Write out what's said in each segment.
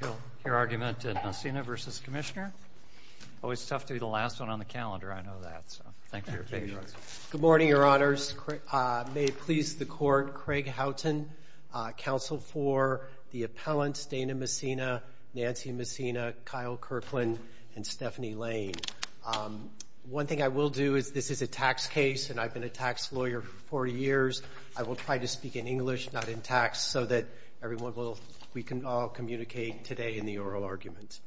Good morning, your honors. May it please the court, Craig Houghton, counsel for the appellants Dana Messina, Nancy Messina, Kyle Kirkland, and Stephanie Lane. One thing I will do is this is a tax case and I've been a tax lawyer for 40 years. I will try to speak in English, not in tax, so that we can all communicate today in the oral argument.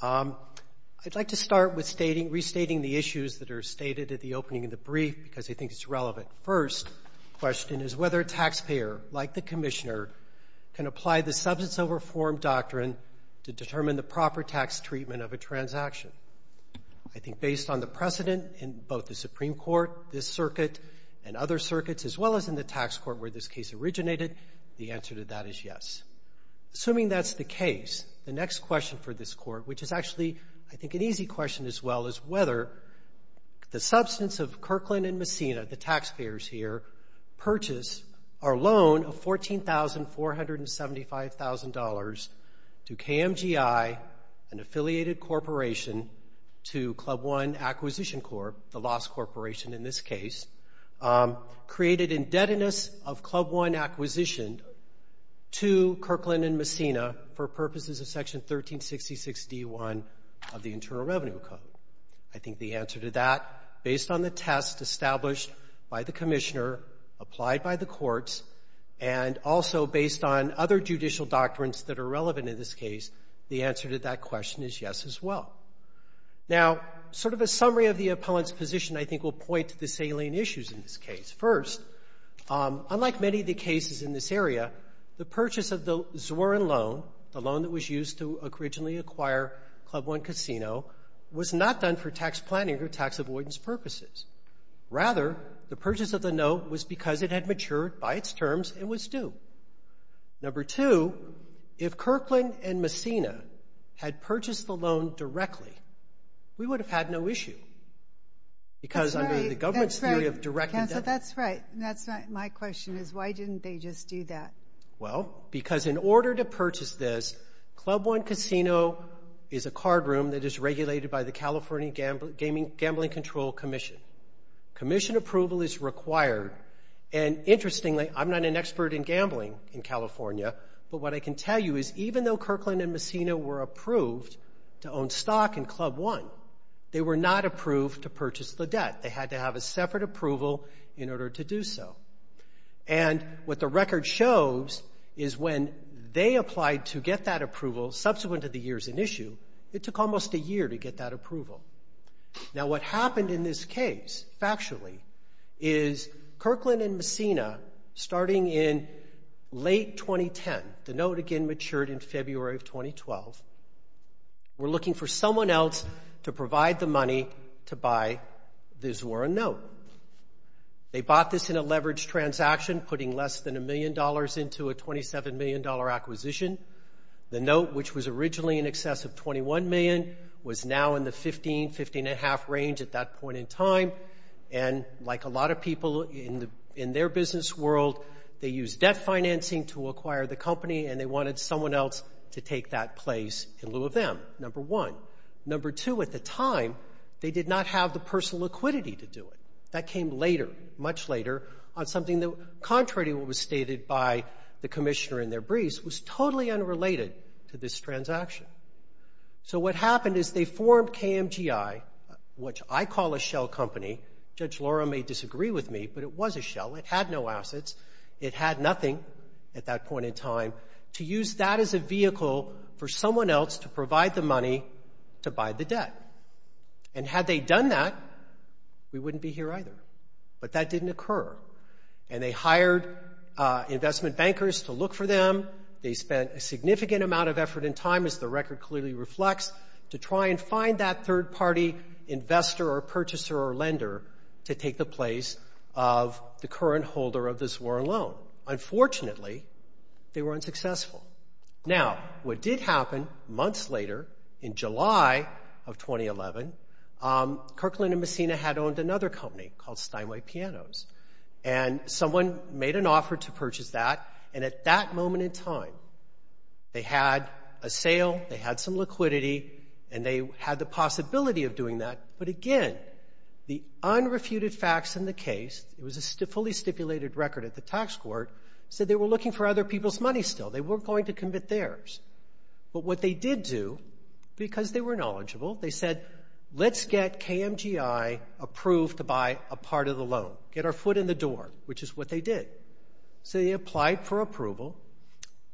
I'd like to start with restating the issues that are stated at the opening of the brief because I think it's relevant. First question is whether a taxpayer, like the commissioner, can apply the substance of reform doctrine to determine the proper tax treatment of a transaction. I think based on the precedent in both the Supreme Court, this circuit, and other circuits, as well as in the tax court where this case originated, the answer to that is yes. Assuming that's the case, the next question for this court, which is actually I think an easy question as well, is whether the substance of Kirkland and Messina, the taxpayers here, purchase our loan of $14,475,000 to KMGI, an affiliated corporation to Club One Acquisition Corp., the lost corporation in this case, created indebtedness of Club One Acquisition to Kirkland and Messina for purposes of Section 1366d1 of the Internal Revenue Code. I think the answer to that, based on the test established by the commissioner, applied by the courts, and also based on other judicial doctrines that are relevant in this case, the answer to that question is yes as well. Now, sort of a summary of the appellant's position, I think, will point to the salient issues in this case. First, unlike many of the cases in this area, the purchase of the Zwerin loan, the loan that was used to originally acquire Club One Casino, was not done for tax planning or tax avoidance purposes. Rather, the purchase of the note was because it had matured by its terms and was due. Number two, if Kirkland and Messina had purchased the loan directly, we would have had no issue because under the government's theory of direct debt. That's right. That's not my question, is why didn't they just do that? Well, because in order to purchase this, Club One Casino is a card room that is regulated by the California Gambling Control Commission. Commission approval is required, and interestingly, I'm not an expert in gambling in California, but what I can tell you is even though Kirkland and Messina were approved to own stock in Club One, they were not approved to purchase the debt. They had to have a separate approval in order to do so. And what the record shows is when they applied to get that approval, subsequent to the years in issue, it took almost a year to get that approval. Now, what happened in this case, factually, is Kirkland and Messina, starting in late 2010, the note again may have matured in February of 2012, were looking for someone else to provide the money to buy the Zora Note. They bought this in a leveraged transaction, putting less than a million dollars into a $27 million acquisition. The note, which was originally in excess of $21 million, was now in the $15, $15.5 range at that point in time, and like a lot of people in their business world, they used debt financing to acquire the company, and they wanted someone else to take that place in lieu of them, number one. Number two, at the time, they did not have the personal liquidity to do it. That came later, much later, on something that, contrary to what was stated by the commissioner in their briefs, was totally unrelated to this transaction. So what happened is they formed KMGI, which I call a shell company. Judge Laura may disagree with me, but it was a shell. It had no assets. It had nothing at that point in time, to use that as a vehicle for someone else to provide the money to buy the debt. And had they done that, we wouldn't be here either. But that didn't occur, and they hired investment bankers to look for them. They spent a significant amount of effort and time, as the record clearly reflects, to try and find that third-party investor or purchaser or lender to take the place of the current holder of this warren loan. Unfortunately, they were unsuccessful. Now, what did happen months later, in July of 2011, Kirkland and Messina had owned another company called Steinway Pianos, and someone made an offer to purchase that, and at that moment in time, they had a sale, they had some liquidity, and they had the possibility of doing that. But again, the unrefuted facts in the case, it was a fully stipulated record at the tax court, said they were looking for other people's money still. They weren't going to commit theirs. But what they did do, because they were knowledgeable, they said, let's get KMGI approved to buy a part of the loan, get our foot in the door, which is what they did. So they applied for approval.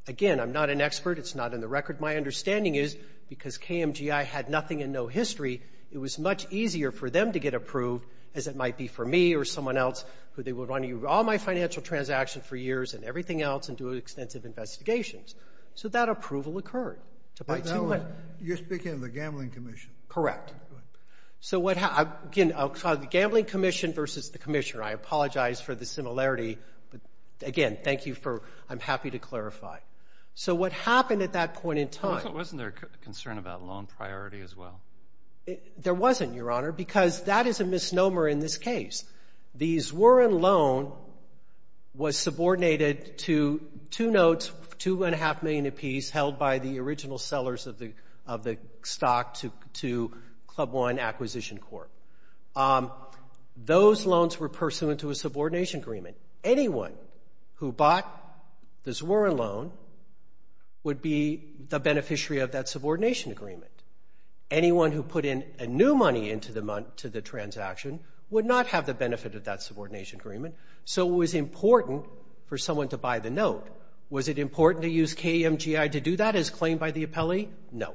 Again, I'm not an expert, it's not in the record. My understanding is, because KMGI had nothing and no history, it was much easier for them to get approved, as it might be for me or someone else, who they would run all my financial transactions for years and everything else and do extensive investigations. So that approval occurred. You're speaking of the gambling commission. Correct. So what happened, again, the gambling commission versus the commissioner. I apologize for the similarity, but again, thank you for, I'm happy to clarify. So what happened at that point in time. Wasn't there a concern about loan priority as well? There wasn't, Your Honor, because that is a misnomer in this case. The Zwirin loan was subordinated to two notes, two and a half million apiece, held by the original sellers of the stock to Club One Acquisition Corp. Those loans were pursuant to a subordination agreement. Anyone who bought the Zwirin loan would be the beneficiary of that subordination agreement. Anyone who put in new money into the transaction would not have the benefit of that subordination agreement. So it was important for someone to buy the note. Was it important to use KMGI to do that as claimed by the appellee? No.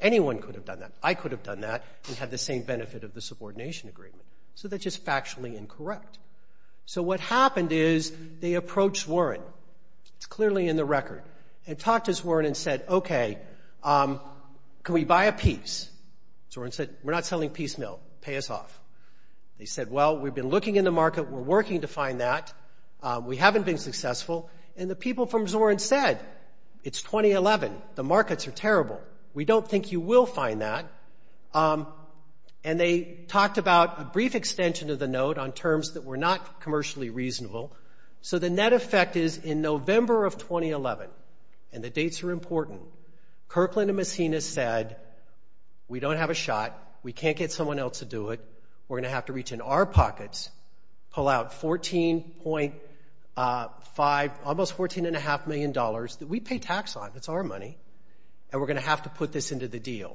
Anyone could have done that. I could have done that and had the same benefit of the subordination agreement. So that's just factually incorrect. So what happened is they approached Zwirin. It's clearly in the record. And talked to Zwirin and said, okay, can we buy a piece? Zwirin said, we're not selling piece, no. Pay us off. They said, well, we've been looking in the market. We're working to find that. We haven't been successful. And the people from Zwirin said, it's 2011. The markets are terrible. We don't think you will find that. And they talked about a brief extension of the note on terms that were not commercially reasonable. So the net effect is in November of 2011, and the dates are important, Kirkland and Messina said, we don't have a shot. We are going to have to reach in our pockets, pull out $14.5, almost $14.5 million that we pay tax on. It's our money. And we're going to have to put this into the deal.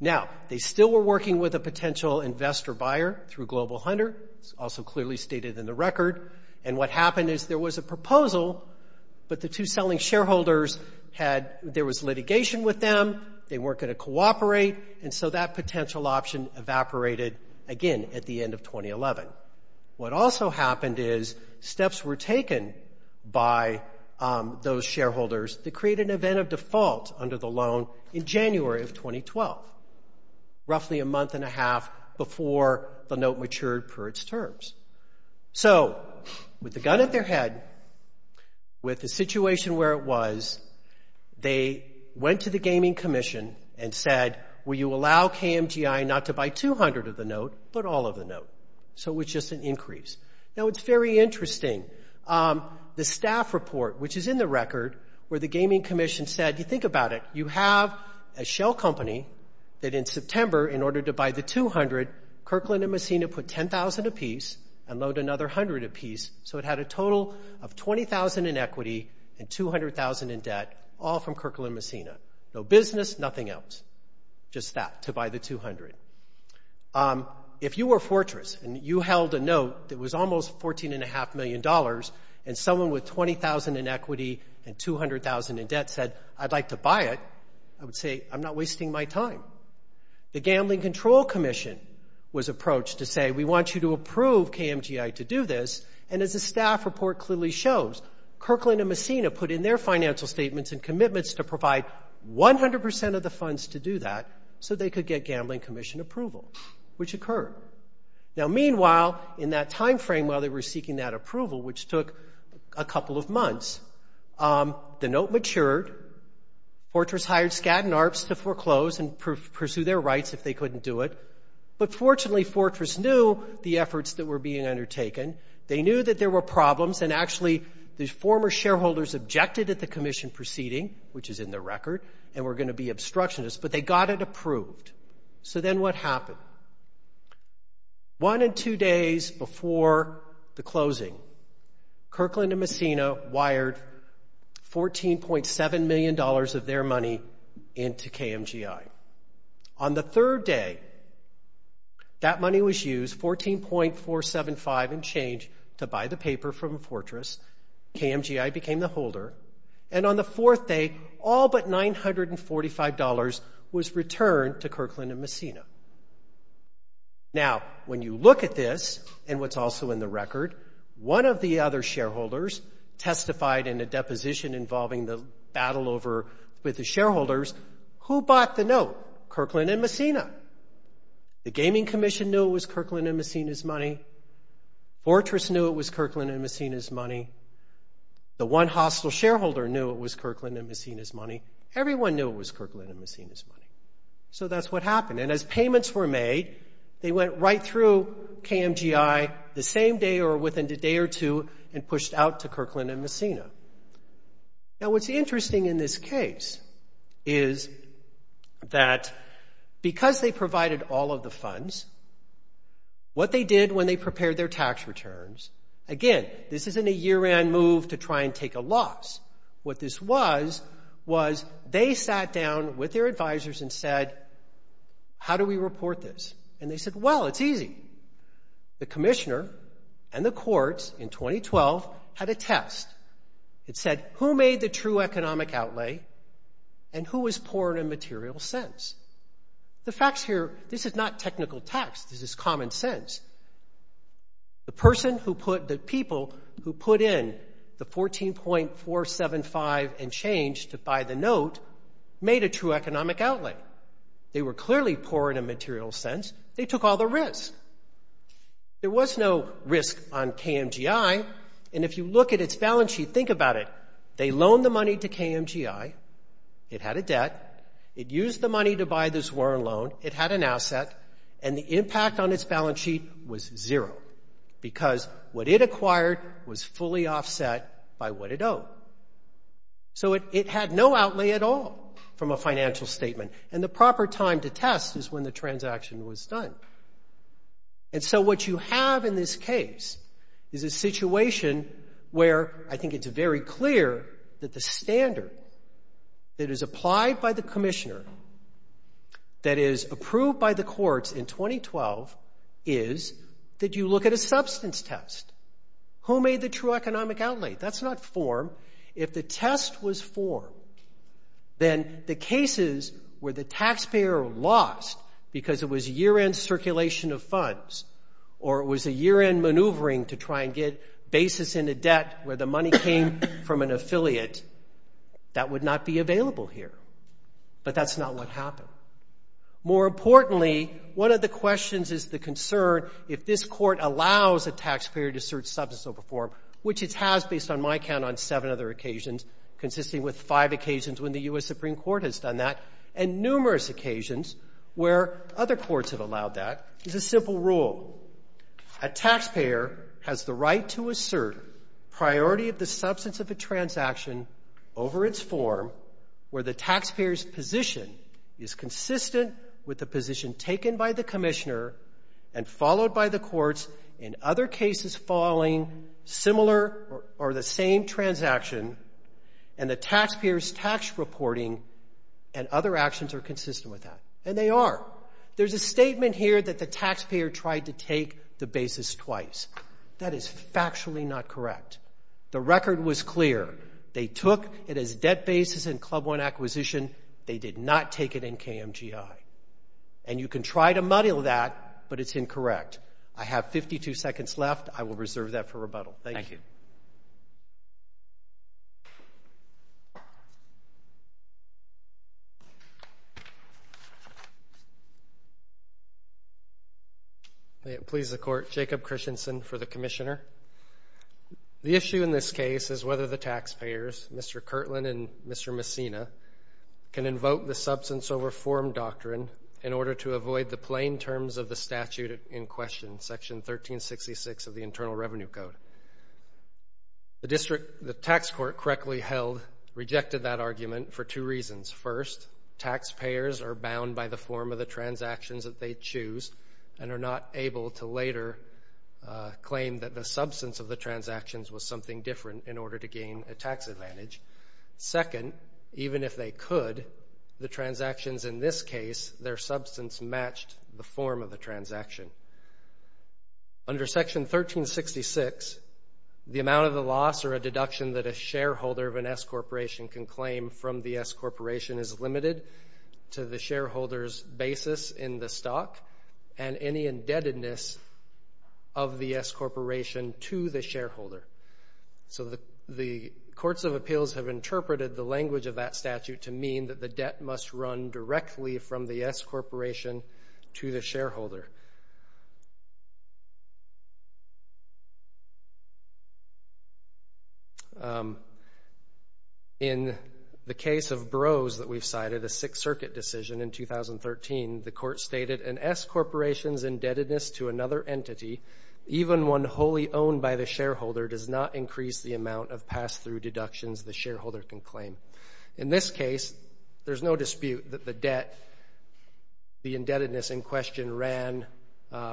Now, they still were working with a potential investor buyer through Global Hunter. It's also clearly stated in the record. And what happened is there was a proposal, but the two selling shareholders had, there was litigation with them. They weren't going to cooperate. And so that potential option evaporated again at the end of 2011. What also happened is steps were taken by those shareholders to create an event of default under the loan in January of 2012, roughly a month and a half before the note matured per its terms. So with the gun at their head, with the situation where it was, they went to the gaming commission and said, will you allow KMGI not to buy $200 of the note, but all of the note? So it was just an increase. Now, it's very interesting. The staff report, which is in the record, where the gaming commission said, you think about it, you have a shell company that in September, in order to buy the $200, Kirkland and Messina put $10,000 apiece and loaned another $100 apiece. So it had a total of $20,000 in equity and $200,000 in debt, all from Kirkland and Messina. No business, nothing else. Just that, to buy the $200. If you were Fortress and you held a note that was almost $14.5 million and someone with $20,000 in equity and $200,000 in debt said, I'd like to buy it, I would say, I'm not wasting my time. The gambling control commission was approached to say, we want you to approve KMGI to do this, and as the staff report clearly shows, Kirkland and Messina put in their financial statements and commitments to provide 100% of the funds to do that so they could get gambling commission approval, which occurred. Now, meanwhile, in that time frame while they were seeking that approval, which took a couple of months, the note matured. Fortress hired Skadden Arps to foreclose and pursue their rights if they couldn't do it, but fortunately Fortress knew the efforts that were being undertaken. They knew that there were problems and actually the former shareholders objected at the commission proceeding, which is in their record, and were going to be obstructionists, but they got it approved. So then what happened? One and two days before the closing, Kirkland and Messina wired $14.7 million of their money into KMGI. On the third day, that money was used, $14.475 in change, to buy the paper from Fortress. KMGI became the holder, and on the fourth day, all but $945 was returned to Kirkland and Messina. Now, when you look at this, and what's also in the record, one of the other shareholders testified in a deposition involving the battle over with the shareholders, who bought the note? Kirkland and Messina. The Gaming Commission knew it was Kirkland and Messina's money. Fortress knew it was Kirkland and Messina's money. The one hostile shareholder knew it was Kirkland and Messina's money. Everyone knew it was Kirkland and Messina's money. So that's what happened, and as payments were made, they went right through KMGI the same day or within a day or two and pushed out to Kirkland and Messina. Now, what's interesting in this case is that because they provided all of the funds, they were able to get the what they did when they prepared their tax returns. Again, this isn't a year-end move to try and take a loss. What this was was they sat down with their advisors and said, how do we report this? And they said, well, it's easy. The commissioner and the courts in 2012 had a test. It said, who made the true economic outlay, and who was poor in a material sense? The facts here, this is not technical tax. This is common sense. The people who put in the $14.475 and change to buy the note made a true economic outlay. They were clearly poor in a material sense. They took all the risk. There was no risk on KMGI, and if you look at its balance sheet, think about it. They loaned the money to KMGI. It had a debt. It used the money to buy this Warren loan. It had an asset, and the impact on its balance sheet was zero because what it acquired was fully offset by what it owed. So it had no outlay at all from a financial statement, and the proper time to test is when the transaction was done. And so what you have in this case is a situation where I think it's very clear that the standard that is applied by the commissioner that is approved by the courts in 2012 is that you look at a substance test. Who made the true economic outlay? That's not form. If the test was form, then the cases where the taxpayer lost because it was year-end circulation of funds or it was a year-end maneuvering to try and get basis in a debt where the money came from an affiliate, that would not be available here, but that's not what happened. More importantly, one of the questions is the concern if this court allows a taxpayer to search substance over form, which it has based on my count on seven other occasions, consisting with five occasions when the U.S. Supreme Court has done that, and numerous occasions where other courts have allowed that. It's a simple rule. A taxpayer has the right to assert priority of the substance of a transaction over its form where the taxpayer's position is consistent with the position taken by the commissioner and followed by the courts in other cases following similar or the same transaction and the taxpayer's tax reporting and other actions are consistent with that. And they are. There's a statement here that the taxpayer tried to take the basis twice. That is factually not correct. The record was clear. They took it as debt basis in Club One acquisition. They did not take it in KMGI. And you can try to muddle that, but it's incorrect. I have 52 seconds left. I will reserve that for rebuttal. Thank you. May it please the court. Jacob Christensen for the commissioner. The issue in this case is whether the taxpayers, Mr. Kirtland and Mr. Messina, can invoke the substance over form doctrine in order to avoid the plain terms of the statute in question, section 1366 of the Internal Revenue Code. The district, the tax court correctly held, rejected that by the form of the transactions that they choose and are not able to later claim that the substance of the transactions was something different in order to gain a tax advantage. Second, even if they could, the transactions in this case, their substance matched the form of the transaction. Under section 1366, the amount of the loss or a deduction that the shareholder of an S-corporation can claim from the S-corporation is limited to the shareholder's basis in the stock and any indebtedness of the S-corporation to the shareholder. So the courts of appeals have interpreted the language of that statute to mean that the debt must run directly from the S-corporation to the shareholder. In the case of Burroughs that we've cited, a Sixth Circuit decision in 2013, the court stated an S-corporation's indebtedness to another entity, even one wholly owned by the shareholder, does not increase the amount of pass-through deductions the shareholder can claim. In this case, there's no dispute that the debt, the indebtedness in question ran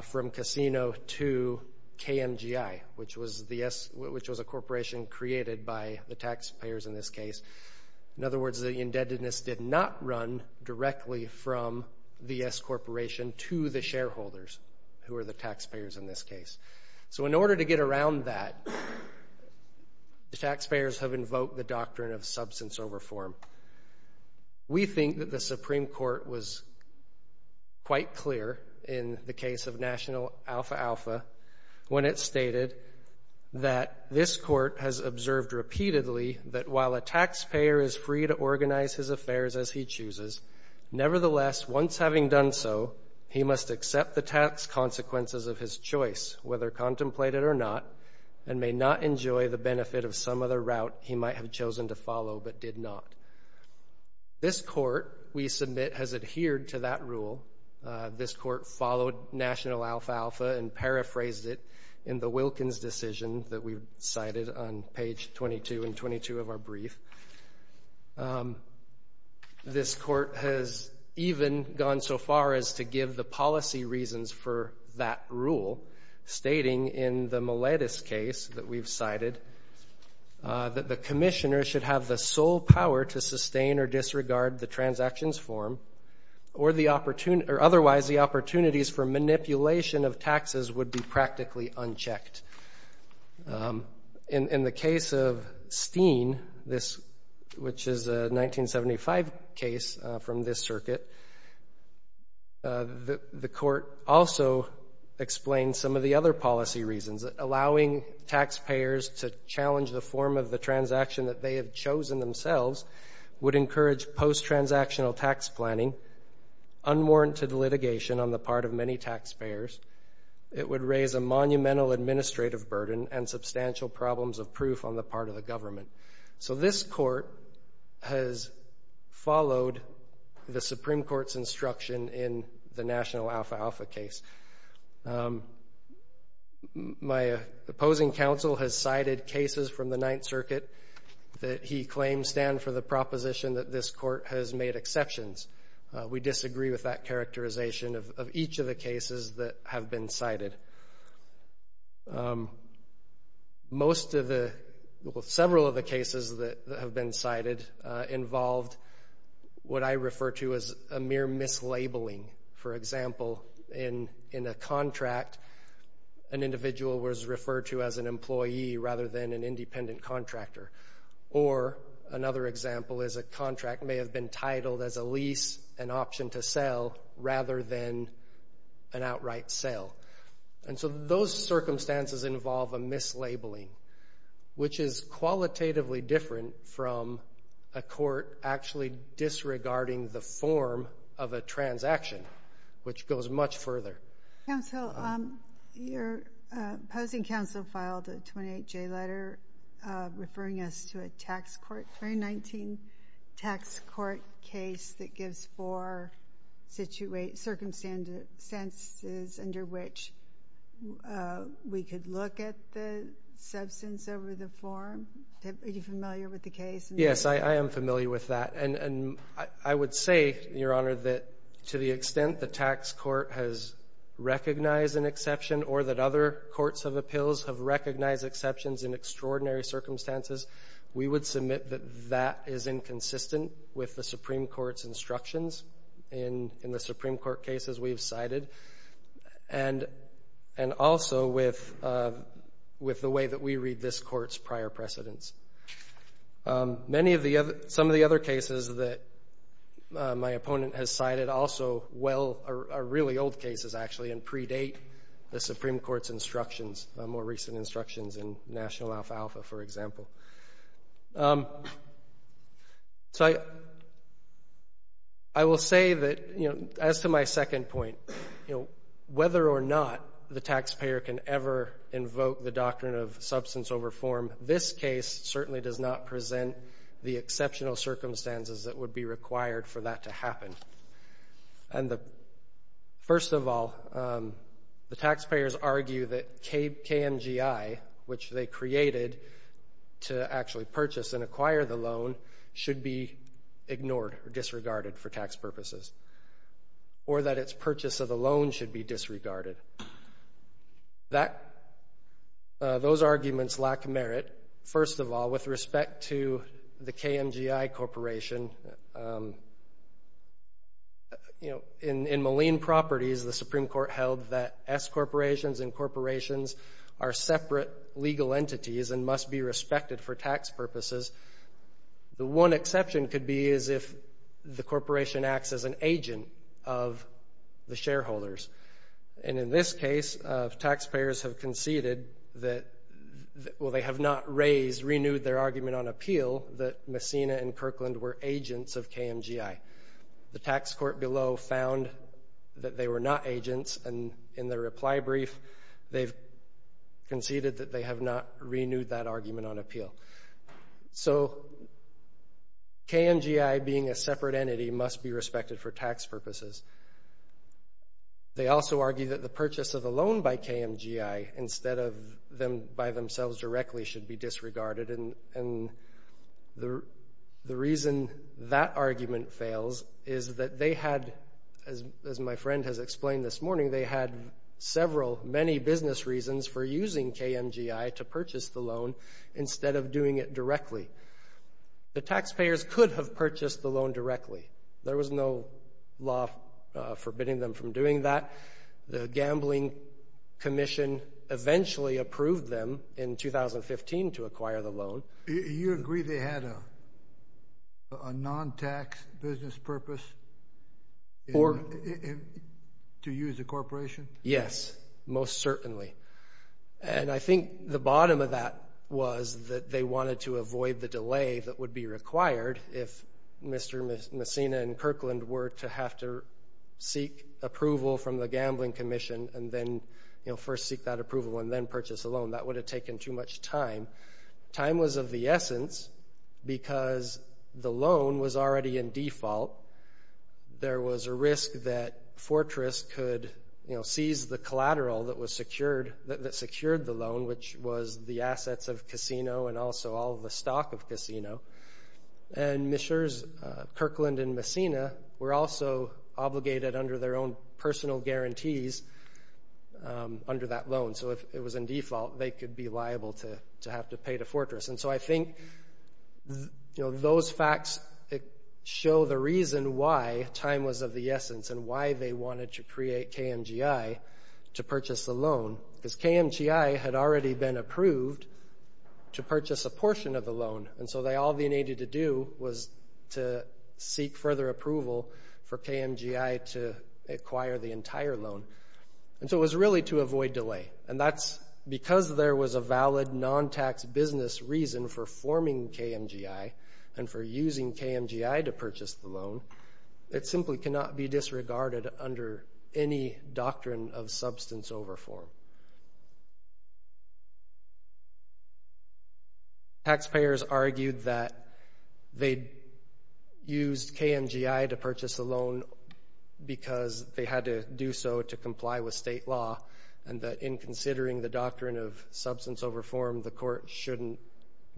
from casino to KMGI, which was a corporation created by the S-corporation. In other words, the indebtedness did not run directly from the S-corporation to the shareholders who are the taxpayers in this case. So in order to get around that, the taxpayers have invoked the doctrine of substance over form. We think that the Supreme Court was quite clear in the case of National Alpha Alpha when it stated that this court has observed repeatedly that while a taxpayer is free to organize his affairs as he chooses, nevertheless, once having done so, he must accept the tax consequences of his choice, whether contemplated or not, and may not enjoy the benefit of some other route he might have chosen to follow but did not. This court, we submit, has adhered to that rule. This court followed National Alpha Alpha and paraphrased it in the Wilkins decision that we've cited on page 22 and 22 of our brief. This court has even gone so far as to give the policy reasons for that rule, stating in the Miletus case that we've cited that the commissioner should have the sole power to sustain or disregard the transactions form or otherwise the opportunities for manipulation of taxes would be practically unchecked. In the case of Steen, which is a 1975 case from this circuit, the court also explained some of the other policy reasons. Allowing taxpayers to challenge the form of the transaction that they have chosen themselves would encourage post-transactional tax planning, unwarranted litigation on the part of many taxpayers. It would raise a monumental administrative burden and substantial problems of proof on the part of the government. So this court has followed the Supreme Court's instruction in the National Alpha Alpha case. My opposing counsel has cited cases from the Ninth Circuit that he claims stand for the proposition that this court has made exceptions. We disagree with that characterization of each of the cases that have been cited. Most of the, well, several of the cases that have been cited involved what I refer to as a mere mislabeling. For example, in a contract, an individual was referred to as an employee rather than an independent contractor. Or another example is a contract may have been titled as a lease and option to sell rather than an outright sale. And so those circumstances involve a mislabeling, which is qualitatively different from a court actually disregarding the form of a transaction, which goes much further. Counsel, your opposing counsel filed a 28-J letter referring us to a 2019 tax court case that gives four circumstances under which we could look at the substance over the form. Are you familiar with the case? Yes, I am familiar with that. And I would say, Your Honor, that to the extent the tax court has recognized an exception or that other courts of appeals have recognized exceptions in extraordinary circumstances, we would submit that that is inconsistent with the Supreme Court's instructions in the Supreme Court cases we've cited and also with the way that we read this Court's prior precedents. Many of the other — some of the other cases that my opponent has cited also well — are really old cases, actually. And predate the Supreme Court's instructions, more recent instructions in National Alpha Alpha, for example. So I will say that, you know, as to my second point, you know, whether or not the taxpayer can ever invoke the doctrine of substance over form, this case certainly does not present the exceptional circumstances that would be required for that to happen. And the — first of all, the taxpayers argue that KMGI, which they created to actually purchase and acquire the loan, should be ignored or disregarded for tax purposes, or that its purchase of the loan should be disregarded. That — those arguments lack merit, first of all, with respect to the KMGI corporation. You know, in Maleen Properties, the Supreme Court held that S-corporations and corporations are separate legal entities and must be respected for tax purposes. The one exception could be as if the corporation acts as an agent of the shareholders. And in this case, taxpayers have conceded that — well, they have not raised, renewed their argument on appeal that Messina and Kirkland were agents of KMGI. The tax court below found that they were not agents, and in their reply brief, they've conceded that they have not renewed that argument on appeal. So KMGI, being a separate entity, must be respected for tax purposes. They also argue that the purchase of the loan by KMGI instead of them by themselves directly should be disregarded, and the reason that argument fails is that they had, as my friend has explained this morning, they had several, many business reasons for using KMGI to purchase the loan instead of doing it directly. The taxpayers could have purchased the loan directly. There was no law forbidding them from doing that. The gambling commission eventually approved them in 2015 to acquire the loan. You agree they had a non-tax business purpose to use the corporation? Yes, most certainly. And I think the bottom of that was that they wanted to avoid the risk that if Kirkland were to have to seek approval from the gambling commission and then first seek that approval and then purchase a loan, that would have taken too much time. Time was of the essence because the loan was already in default. There was a risk that Fortress could seize the collateral that secured the loan, which was the assets of Casino and also all the stock of Casino. And Kirkland and Messina were also obligated under their own personal guarantees under that loan. So if it was in default, they could be liable to have to pay to Fortress. And so I think those facts show the reason why time was of the essence and why they wanted to create KMGI to purchase the loan, because KMGI had already been approved to purchase a portion of the loan. And so all they needed to do was to seek further approval for KMGI to acquire the entire loan. And so it was really to avoid delay. And that's because there was a valid non-tax business reason for forming KMGI and for using KMGI to purchase the loan. It simply cannot be disregarded under any doctrine of substance over form. Taxpayers argued that they used KMGI to purchase the loan because they had to do so to comply with state law, and that in considering the doctrine of substance over form, the court shouldn't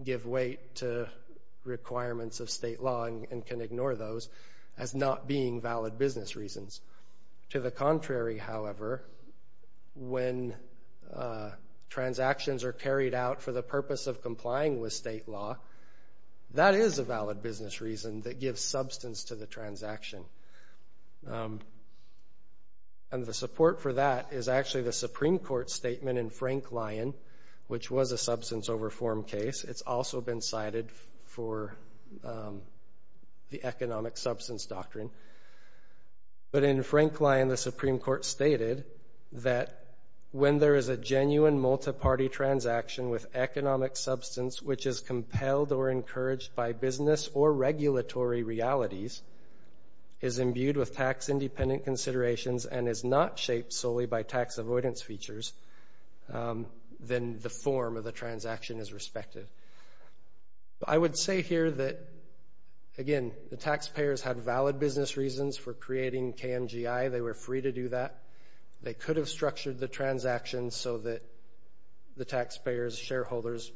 give weight to requirements of state law and can ignore those as not being valid business reasons. To the contrary, however, when transactions are carried out for the purpose of complying with state law, that is a valid business reason that gives substance to the transaction. And the support for that is actually the Supreme Court statement in Frank Lyon, which was a substance over form case. It's also been cited for the economic substance doctrine. But in Frank Lyon, the Supreme Court stated that when there is a genuine multi-party transaction with economic substance which is compelled or encouraged by business or regulatory realities, is imbued with tax-independent considerations and is not shaped solely by tax avoidance features, then the form of the transaction is respected. I would say here that, again, the taxpayers had valid business reasons for the transaction so that the taxpayers, shareholders,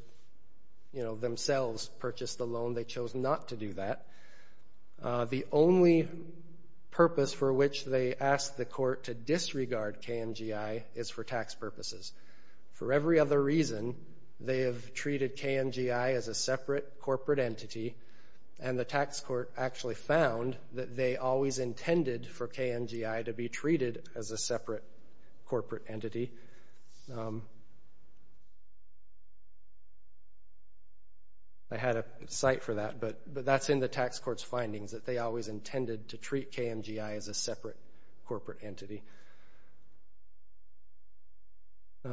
you know, themselves purchased the loan. They chose not to do that. The only purpose for which they asked the court to disregard KMGI is for tax purposes. For every other reason, they have treated KMGI as a separate corporate entity and the tax court actually found that they always intended for KMGI to be treated as a separate corporate entity. I had a cite for that, but that's in the tax court's findings that they always intended to treat KMGI as a separate corporate entity.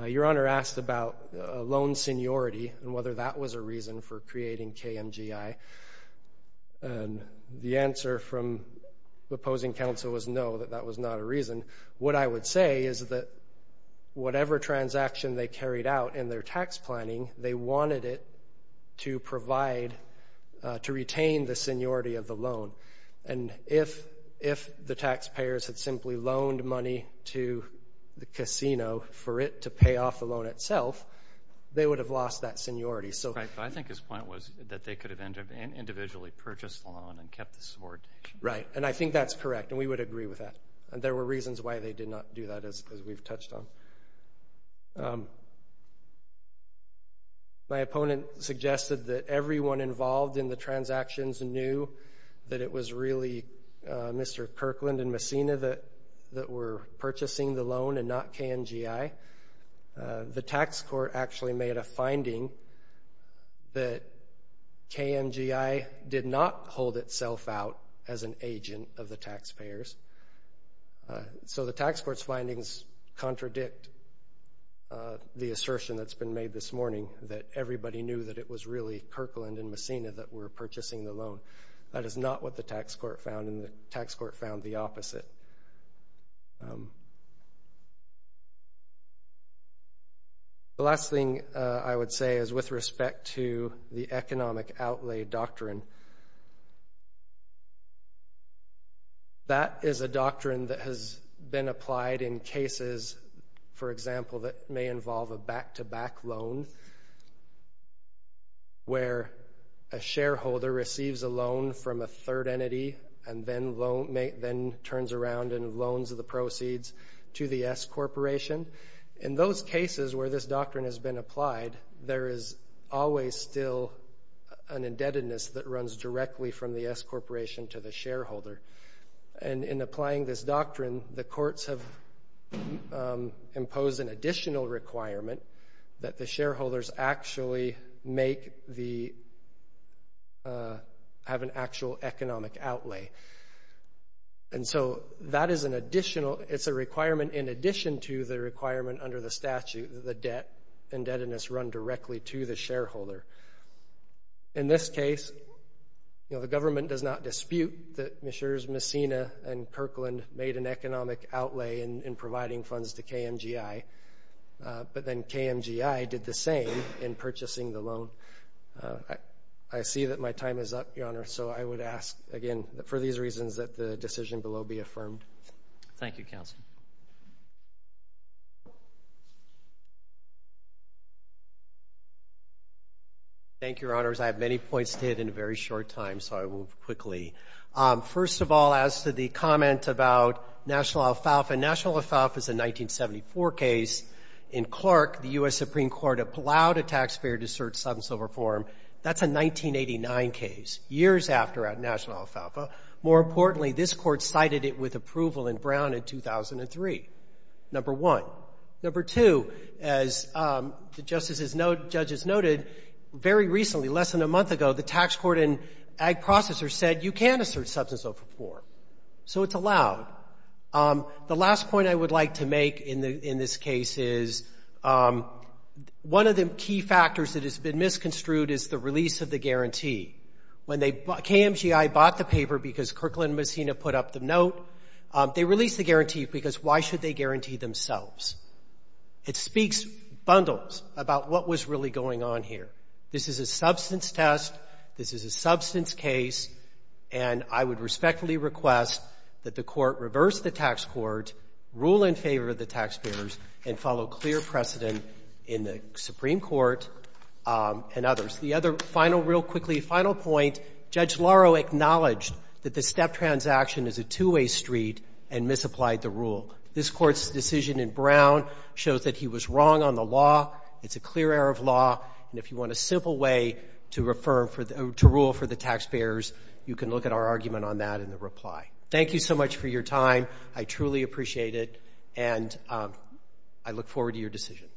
Your Honor asked about loan seniority and whether that was a reason for creating KMGI. The answer from the opposing counsel was no, that that was not a reason. What I would say is that whatever transaction they carried out in their tax planning, they wanted it to provide, to retain the seniority of the loan. And if the taxpayers had simply loaned money to the casino for it to pay off the loan itself, they would have lost that seniority. Right, but I think his point was that they could have individually purchased the loan and kept the subordination. Right, and I think that's correct, and we would agree with that. There were reasons why they did not do that, as we've touched on. My opponent suggested that everyone involved in the transactions knew that it was really Mr. Kirkland and Messina that were purchasing the loan and not KMGI. The tax court actually made a finding that KMGI did not hold itself out as an agent of the taxpayers. So the tax court's findings contradict the assertion that's been made this morning, that everybody knew that it was really Kirkland and Messina that were purchasing the loan. That is not what the tax court found, and the tax court found the opposite. The last thing I would say is with respect to the economic outlay doctrine. That is a doctrine that has been applied in cases, for example, that may involve a back-to-back loan, where a shareholder receives a loan from a third entity and then makes a payment, then turns around and loans the proceeds to the S Corporation. In those cases where this doctrine has been applied, there is always still an indebtedness that runs directly from the S Corporation to the shareholder. And in applying this doctrine, the courts have imposed an additional requirement that the shareholders actually have an actual economic outlay. And so that is an additional, it's a requirement in addition to the requirement under the statute that the debt and indebtedness run directly to the shareholder. In this case, the government does not dispute that Messina and Kirkland made an economic outlay in providing funds to KMGI, but then KMGI did the same in purchasing the loan. I see that my time is up, Your Honor, so I would ask, again, for these reasons that the decision below be affirmed. Thank you, Counsel. Thank you, Your Honors. I have many points to hit in a very short time, so I will quickly. First of all, as to the comment about National Alfalfa. National Alfalfa is a 1974 case. In Clark, the U.S. Supreme Court allowed a taxpayer to assert substance over form. That's a 1989 case, years after National Alfalfa. More importantly, this Court cited it with approval in Brown in 2003, number one. Number two, as the judges noted, very recently, less than a month ago, the tax court and ag processors said, you can assert substance over form, so it's allowed. The last point I would like to make in this case is, one of the key factors that has been misconstrued is the release of the guarantee. When KMGI bought the paper because Kirkland and Messina put up the note, they released the guarantee because why should they guarantee themselves? It speaks bundles about what was really going on here. This is a substance test. This is a substance case, and I would like to make a point here, and follow clear precedent in the Supreme Court and others. The other final, real quickly, final point, Judge Laro acknowledged that the step transaction is a two-way street and misapplied the rule. This Court's decision in Brown shows that he was wrong on the law. It's a clear error of law, and if you want a simple way to rule for the taxpayers, you can look at our argument on that in the reply. Thank you so much for your time. I truly appreciate it, and I look forward to your decision.